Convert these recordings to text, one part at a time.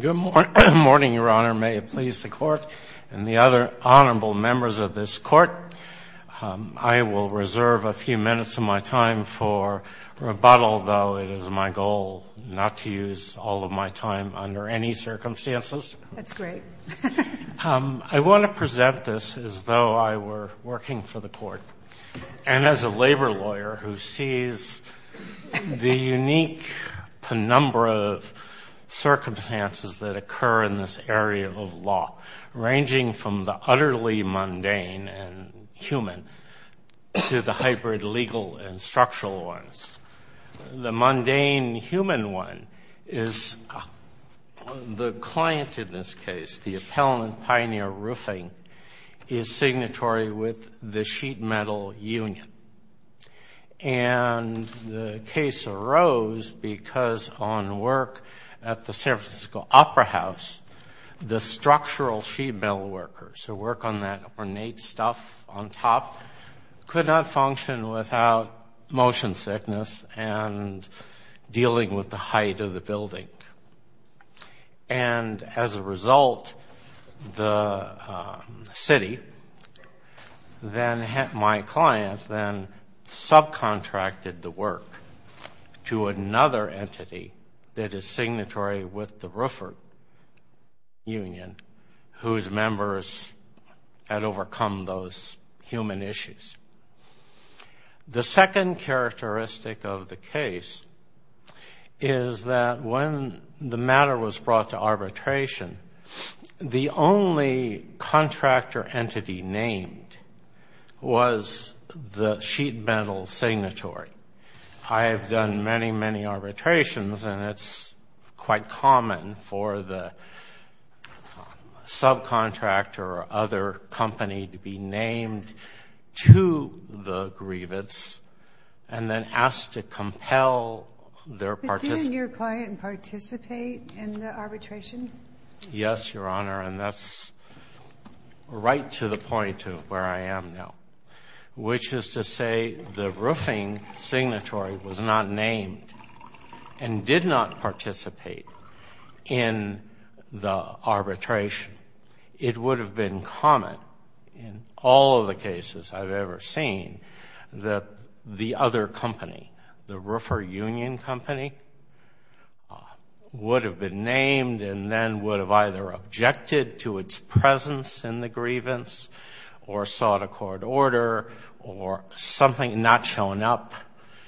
Good morning, Your Honor. May it please the Court and the other honorable members of this Court. I will reserve a few minutes of my time for rebuttal, though it is my goal not to use all of my time under any circumstances. That's great. I want to present this as though I were working for the Court and as a labor lawyer who sees the unique penumbra of circumstances that occur in this area of law, ranging from the utterly mundane and human to the hybrid legal and structural ones. The mundane human one is the client in this case, the appellant, Pioneer Roofing, is signatory with the Sheet Metal Union. And the case arose because on work at the San Francisco Opera House, the structural sheet metal workers who work on that ornate stuff on top could not function without motion sickness and dealing with the height of the building. And as a result, the client then subcontracted the work to another entity that is signatory with the Roofing Union whose members had overcome those human issues. The second characteristic of the case is that when the matter was brought to arbitration, the only contractor entity named was the sheet metal signatory. I have done many, many arbitrations and it's quite common for the subcontractor or other company to be named to the grievance and then asked to compel their participant. Did your client participate in the arbitration? Yes, Your Honor, and that's right to the point to where I am now, which is to say the roofing signatory was not named and did not participate in the arbitration. It would have been common in all of the cases I've ever seen that the other company, the Roofer Union Company, would have been named and then would have either objected to its presence in the grievance or sought a court order or something not showing up.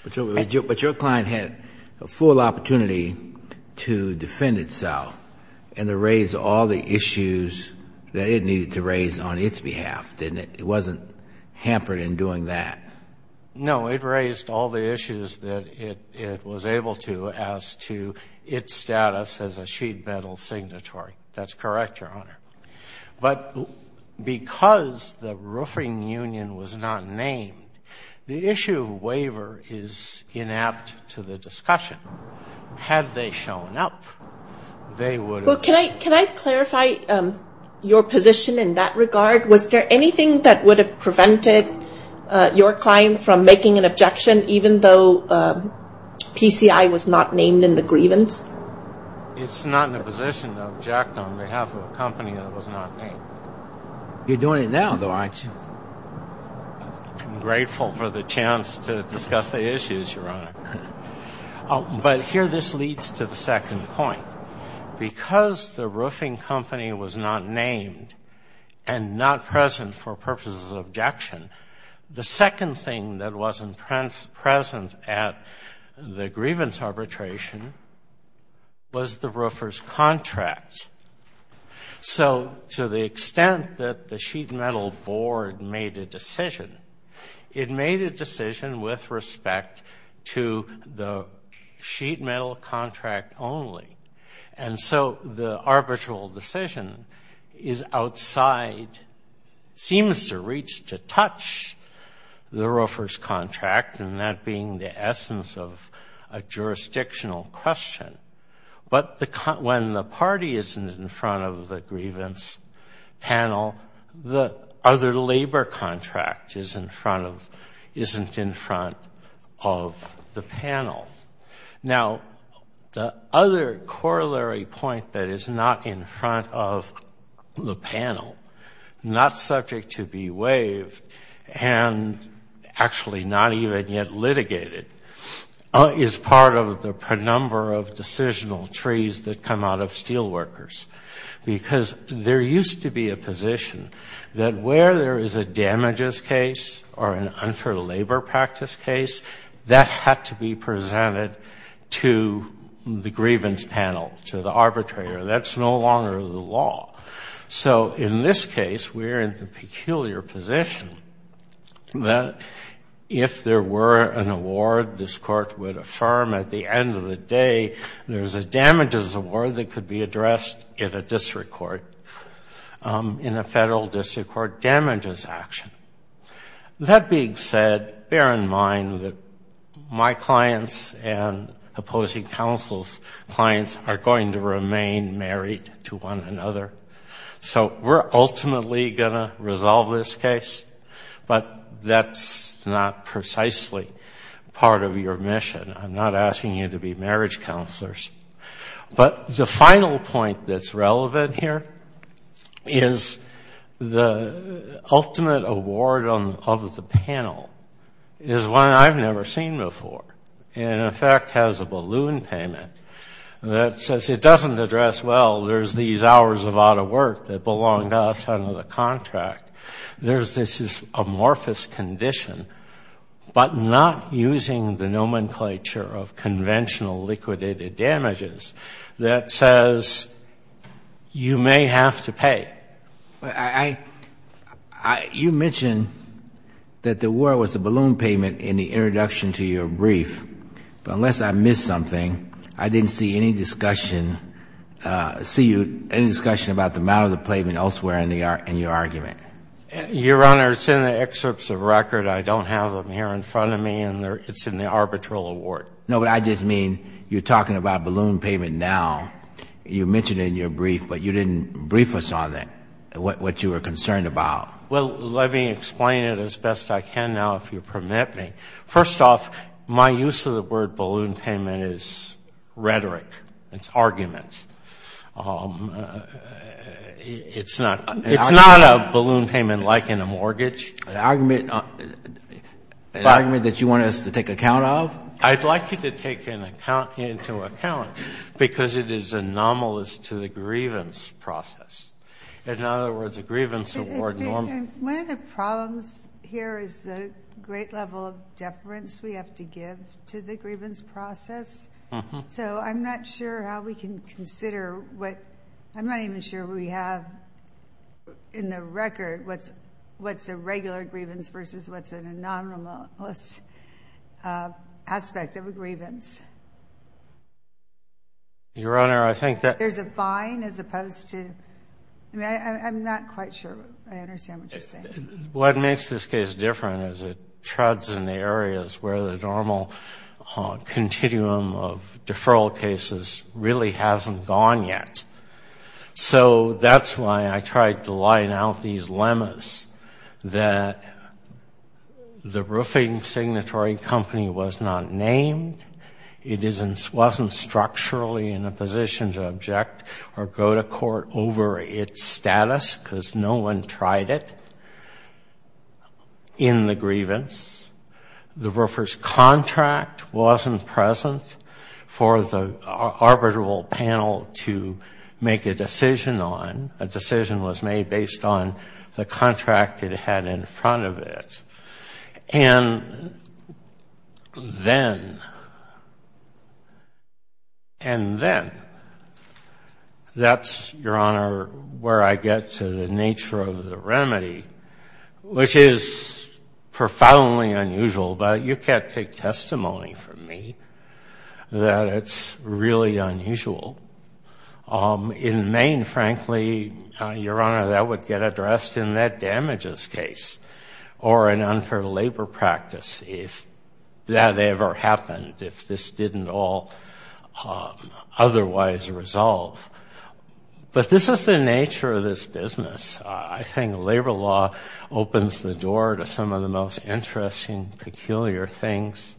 But your client had a full opportunity to defend itself and to raise all the issues that it needed to raise on its behalf, didn't it? It wasn't hampered in doing that. No, it raised all the issues that it was able to as to its status as a sheet metal signatory. That's correct, Your Honor. But because the roofing union was not named, the issue of waiver is inept to the discussion. Had they shown up, they would have been named. Can I clarify your position in that regard? Was there anything that would have prevented your client from making an objection even though PCI was not named in the grievance? It's not in a position to object on behalf of a company that was not named. You're doing it now, though, aren't you? I'm grateful for the chance to discuss the issues, Your Honor. But here this leads to the second point. Because the roofing company was not named and not present for purposes of objection, the second thing that wasn't present at the grievance arbitration was the roofer's contract. So to the extent that the sheet metal board made a decision, it made a decision with respect to the sheet metal contract only. And so the arbitral decision is outside, seems to reach, to touch the roofer's contract and that being the essence of a jurisdictional question. But when the party isn't in front of the grievance panel, the other labor contract is in front of, isn't in front of the panel. Now, the other corollary point that is not in front of the panel, not subject to be waived, and actually not even yet litigated, is part of the number of decisional trees that come out of the roofer's contract. And so we're in a peculiar position that where there is a damages case or an unfair labor practice case, that had to be presented to the grievance panel, to the arbitrator. That's no longer the law. So in this case, we're in the peculiar position that if there were an award, this court would affirm at the end of the day, there's a damages award that could be addressed in a district court, in a federal district court damages action. That being said, bear in mind that my clients and opposing counsel's clients are going to remain married to one another. So we're not precisely part of your mission. I'm not asking you to be marriage counselors. But the final point that's relevant here is the ultimate award of the panel is one I've never seen before. And in fact, has a balloon payment that says it doesn't address, well, there's these but not using the nomenclature of conventional liquidated damages that says you may have to pay. I, I, I, you mentioned that the award was a balloon payment in the introduction to your brief. But unless I missed something, I didn't see any discussion, see you, any discussion about the amount of the payment elsewhere in the, in your argument. Your Honor, it's in the excerpts of record. I don't have them here in front of me and they're, it's in the arbitral award. No, but I just mean, you're talking about balloon payment now. You mentioned it in your brief, but you didn't brief us on that, what you were concerned about. Well, let me explain it as best I can now, if you permit me. First off, my use of the word in a mortgage. An argument, an argument that you want us to take account of? I'd like you to take an account, into account because it is anomalous to the grievance process. In other words, a grievance award normally. One of the problems here is the great level of deference we have to give to the grievance process. So I'm not sure how we can consider what, I'm not even sure we have in the record what's, what's a regular grievance versus what's an anomalous aspect of a grievance. Your Honor, I think that. There's a fine as opposed to, I mean, I'm not quite sure I understand what you're saying. What makes this case different is it treads in the areas where the normal continuum of deferral cases really hasn't gone yet. So that's why I tried to line out these lemmas that the roofing signatory company was not named. It wasn't structurally in a position to object or go to court over its status because no one tried it in the grievance. The roofer's contract wasn't present for the arbitral panel to make a decision on. A decision was made based on the contract it had in front of it. And then, and then, that's, Your Honor, where I get to the nature of the remedy, which is profoundly unusual, but you can't take testimony from me that it's really unusual. In Maine, frankly, Your Honor, that would get addressed in that damages case or an unfair labor practice if that ever happened, if this didn't all otherwise resolve. But this is the nature of this business. I think labor law opens the door to some of the most interesting, peculiar things,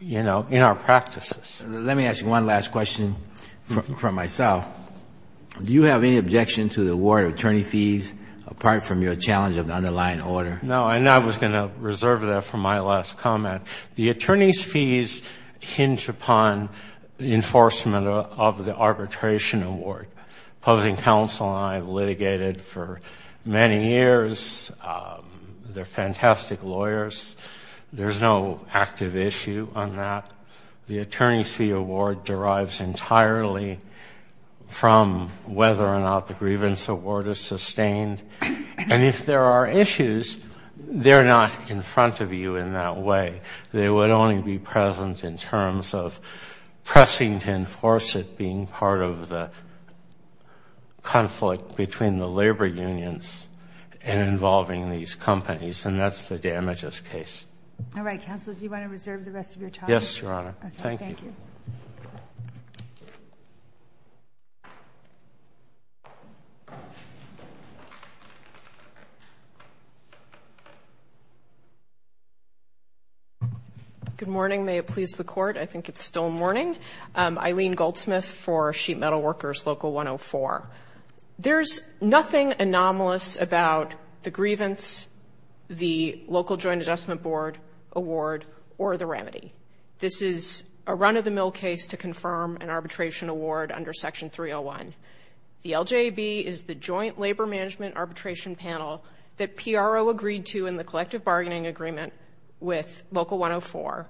you know, in our practices. Let me ask you one last question from myself. Do you have any objection to the award of attorney fees apart from your challenge of the underlying order? No, and I was going to reserve that for my last comment. The attorney's fees hinge upon the enforcement of the arbitration award. Closing counsel and I have litigated for many years. They're fantastic lawyers. There's no active issue on that. The attorney's fee award derives entirely from whether or not the grievance award is sustained, and if there are issues, they're not in front of you in that way. They would only be present in terms of pressing to enforce it being part of the conflict between the labor unions and involving these companies, and that's the damages case. All right, counsel, do you want to reserve the rest of your time? Yes, Your Honor. Thank you. Good morning. May it please the Court. I think it's still morning. Eileen Goldsmith for Sheet Metal Workers, Local 104. There's nothing anomalous about the grievance, the local joint adjustment award, or the remedy. This is a run-of-the-mill case to confirm an arbitration award under Section 301. The LJB is the joint labor management arbitration panel that PRO agreed to in the collective bargaining agreement with Local 104,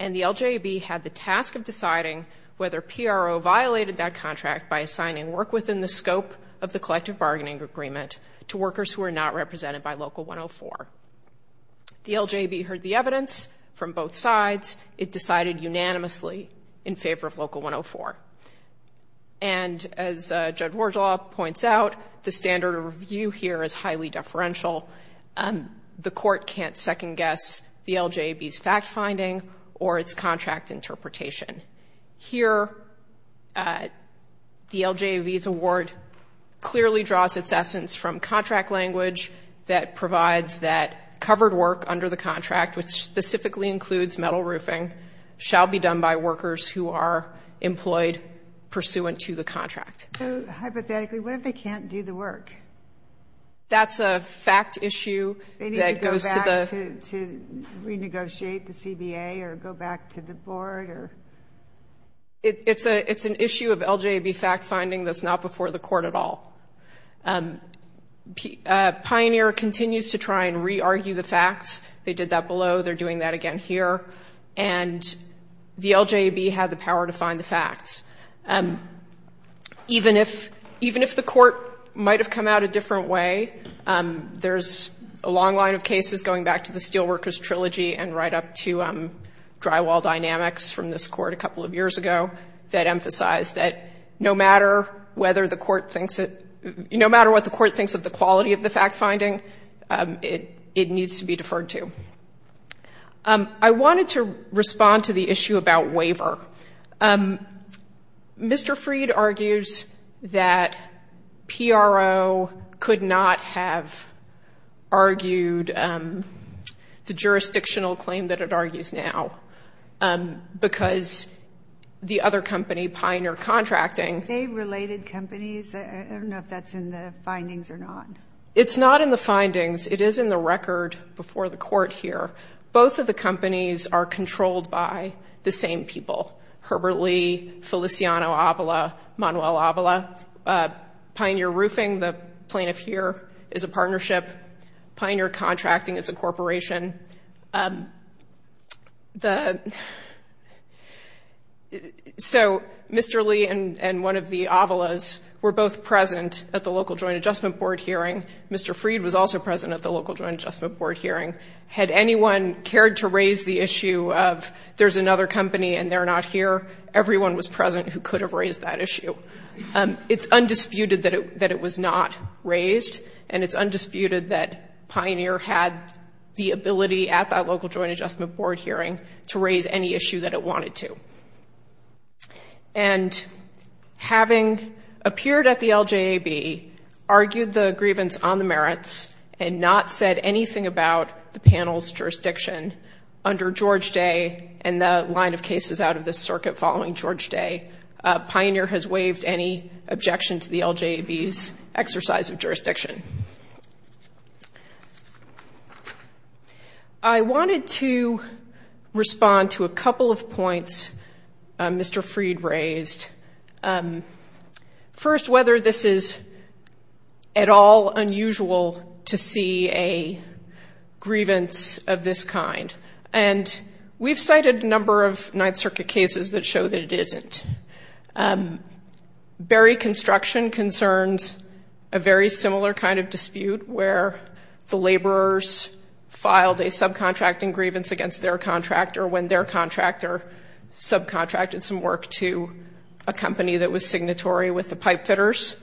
and the LJB had the task of deciding whether PRO violated that contract by assigning work within the scope of the collective bargaining agreement to workers who are not represented by Local 104. The LJB heard the evidence from both sides. It decided unanimously in favor of Local 104, and as Judge Wardlaw points out, the standard of review here is highly deferential. The Court can't second-guess the LJB's fact-finding or its contract language that provides that covered work under the contract, which specifically includes metal roofing, shall be done by workers who are employed pursuant to the contract. Hypothetically, what if they can't do the work? That's a fact issue that goes to the— They need to go back to renegotiate the CBA or go back to the board or— It's an issue of LJB fact-finding that's not before the Court at all. Pioneer continues to try and re-argue the facts. They did that below. They're doing that again here, and the LJB had the power to find the facts. Even if the Court might have come out a different way, there's a long line of cases going back to the Steelworkers Trilogy and right up to drywall dynamics from this Court a couple of years ago that emphasize that no matter what the Court thinks of the quality of the fact-finding, it needs to be deferred to. I wanted to respond to the issue about waiver. Mr. Freed argues that PRO could not have argued the jurisdictional claim that it argues now because the other company, Pioneer Contracting— Are they related companies? I don't know if that's in the findings or not. It's not in the findings. It is in the record before the Court here. Both of the companies are controlled by the same people—Herbert Lee, Feliciano Avila, Manuel Avila. Pioneer Roofing, the plaintiff here, is a partnership. Pioneer Roofing—Mr. Lee and one of the Avilas were both present at the Local Joint Adjustment Board hearing. Mr. Freed was also present at the Local Joint Adjustment Board hearing. Had anyone cared to raise the issue of there's another company and they're not here, everyone was present who could have raised that issue. It's undisputed that it was not raised, and it's undisputed that Pioneer had the ability at that Local Joint Adjustment Board hearing to raise any issue that it wanted to. And having appeared at the LJAB, argued the grievance on the merits, and not said anything about the panel's jurisdiction under George Day and the line of cases out of the circuit following George Day, Pioneer has waived any objection to the LJAB's exercise of jurisdiction. I wanted to respond to a couple of points Mr. Freed raised. First, whether this is at all unusual to see a grievance of this kind. And we've cited a number of Ninth Circuit cases that show that it isn't. Berry Construction concerns a very similar kind of dispute where the laborers filed a subcontracting grievance against their contractor when their contractor subcontracted some work to a company that was signatory with the pipefitters.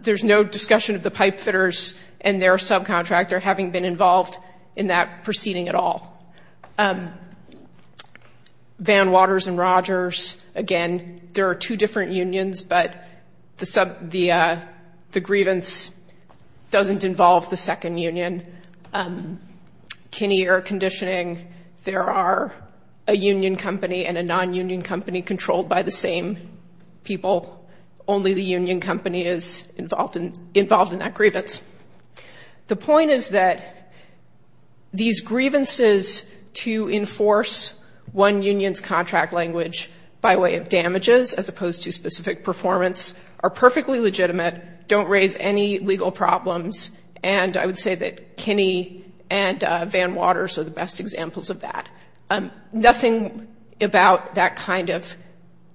There's no discussion of the pipefitters and their subcontractor having been involved in that proceeding at all. Van Waters and Rogers, again, there are two different unions, but the grievance doesn't involve the second union. Kinney Air Conditioning, there are a union company and a non-union company controlled by the same people. Only the union company is involved in that grievance. The point is that these grievances to enforce one union's contract language by way of damages as opposed to specific performance are perfectly legitimate, don't raise any legal problems, and I would say that Kinney and Van Waters are the best examples of that. Nothing about that kind of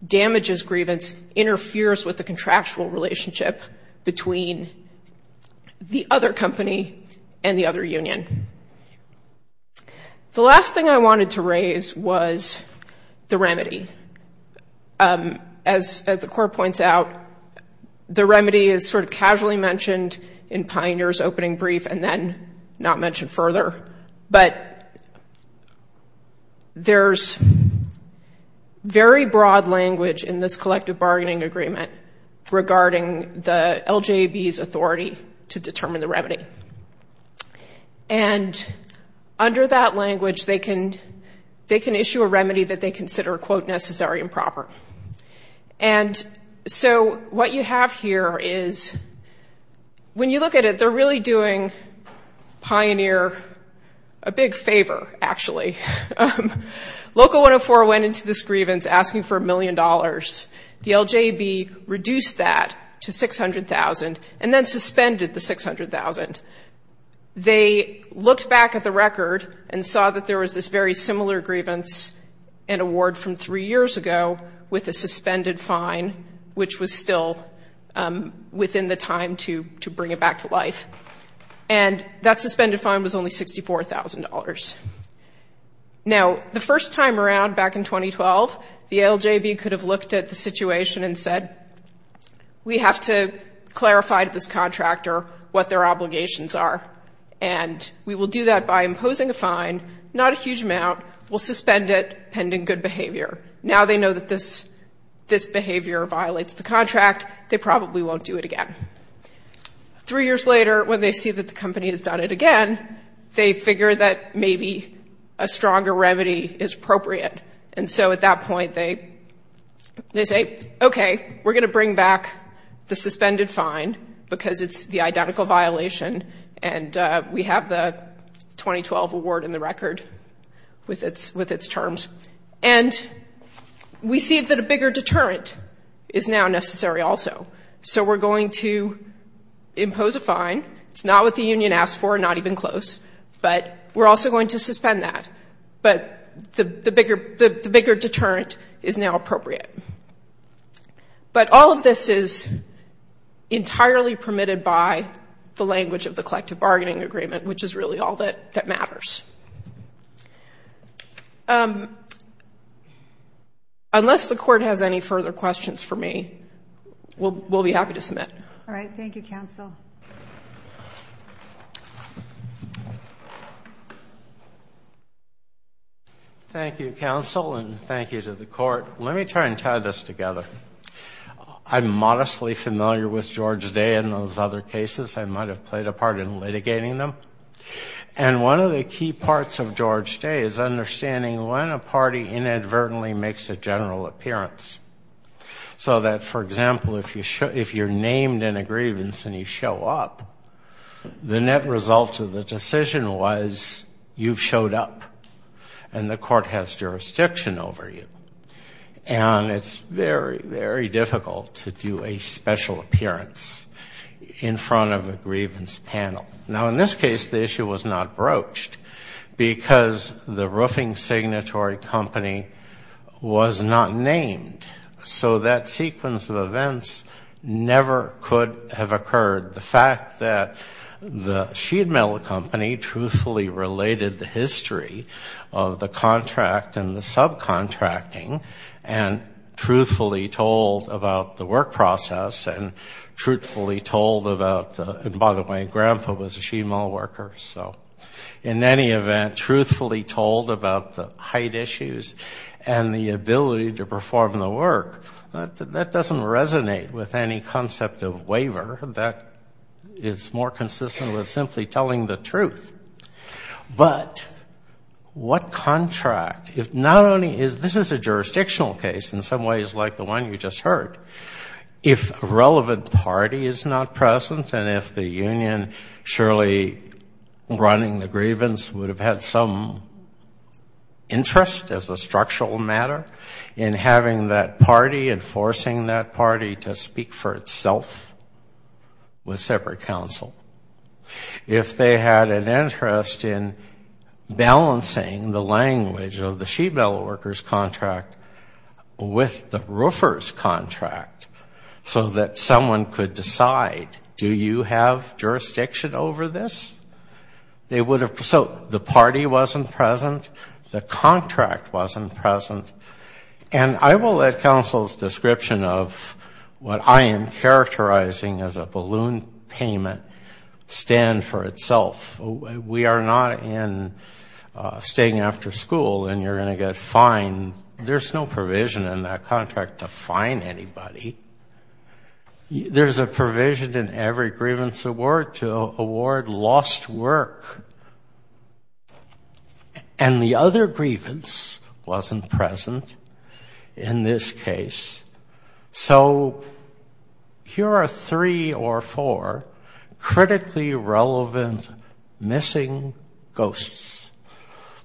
damages grievance interferes with the contractual relationship between the other company and the other union. The last thing I wanted to raise was the remedy. As the court points out, the remedy is sort of casually mentioned in Pioneer's opening brief and then not mentioned further, but there's very broad language in this collective bargaining agreement regarding the LJB's authority to determine the remedy. Under that language, they can issue a remedy that they consider, quote, necessary and proper. What you have here is, when you look at it, they're really doing Pioneer a big favor, actually. Local 104 went into this grievance asking for a million dollars. The LJB reduced that to $600,000 and then suspended the $600,000. They looked back at the record and saw that there was this very similar grievance and award from three years ago with a suspended fine, which was still within the time to bring it back to life. That suspended fine was only $64,000. Now, the first time around back in 2012, the LJB could have looked at the situation and said, we have to clarify to this contractor what their obligations are. We will do that by imposing a huge amount. We'll suspend it pending good behavior. Now they know that this behavior violates the contract. They probably won't do it again. Three years later, when they see that the company has done it again, they figure that maybe a stronger remedy is appropriate. And so at that point, they say, okay, we're going to bring back the suspended fine because it's the identical violation and we have the 2012 award in the record with its terms. And we see that a bigger deterrent is now necessary also. So we're going to impose a fine. It's not what the union asked for, not even close, but we're also going to suspend that. But the bigger deterrent is now appropriate. But all of this is entirely permitted by the language of the collective bargaining agreement, which is really all that matters. Unless the court has any further questions for me, we'll be happy to submit. All right. Thank you, counsel. Thank you, counsel, and thank you to the court. Let me try and tie this together. I'm modestly familiar with George Day and those other cases. I might have played a part in litigating them. And one of the key parts of George Day is understanding when a party inadvertently makes a general appearance. So that, for example, if you're named in a grievance and you show up, the net result of the decision was you've showed up and the court has jurisdiction over you. And it's very, very difficult to do a special appearance in front of a grievance panel. Now, in this case, the issue was not broached because the roofing signatory company was not named. So that sequence of events never could have occurred. The fact that the sheet metal company truthfully related the history of the contract and the subcontracting and truthfully told about the work process and truthfully told about the – and by the way, Grandpa was a sheet metal worker. So in any event, truthfully told about the height issues and the ability to perform the work, that doesn't resonate with any concept of waiver. That is more consistent with simply telling the truth. But what contract – if not only is – this is a jurisdictional case in some ways like the one you just heard. If a relevant party is not present and if the union surely running the grievance would have had some interest as a structural matter in having that party and forcing that party to speak for itself with separate counsel, if they had an interest in this contract so that someone could decide, do you have jurisdiction over this? They would have – so the party wasn't present. The contract wasn't present. And I will let counsel's description of what I am characterizing as a balloon payment stand for itself. We are not in staying after school and you are going to get fined. There is no provision in that contract to fine anybody. There is a provision in every grievance award to award lost work. And the other grievance wasn't present in this case. So here are three or four critically relevant missing ghosts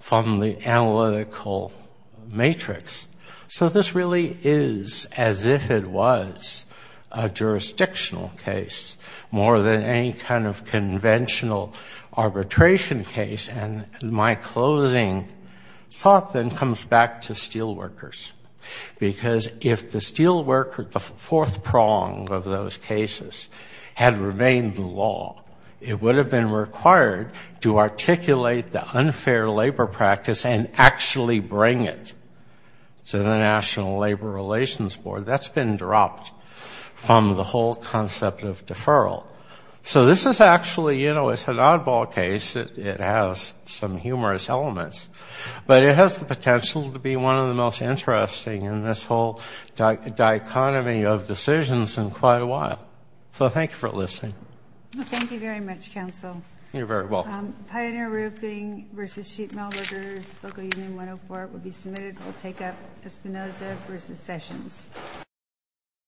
from the analytical matrix. So this really is as if it was a jurisdictional case more than any kind of conventional arbitration case. And my closing thought then comes back to steel workers. Because if the steel worker, the fourth prong of those cases had remained the law, it would have been required to articulate the unfair labor practice and actually bring it to the National Labor Relations Board. That's been dropped from the whole concept of deferral. So this is actually, you know, it's an oddball case. It has some humorous elements. But it has the potential to be one of the most interesting in this whole dichotomy of decisions in quite a while. So thank you for listening. Thank you very much, Council. You're very welcome. Pioneer Roofing v. Sheet Metalworkers, Local Union 104 will be submitted. We'll take up Espinoza v. Sessions.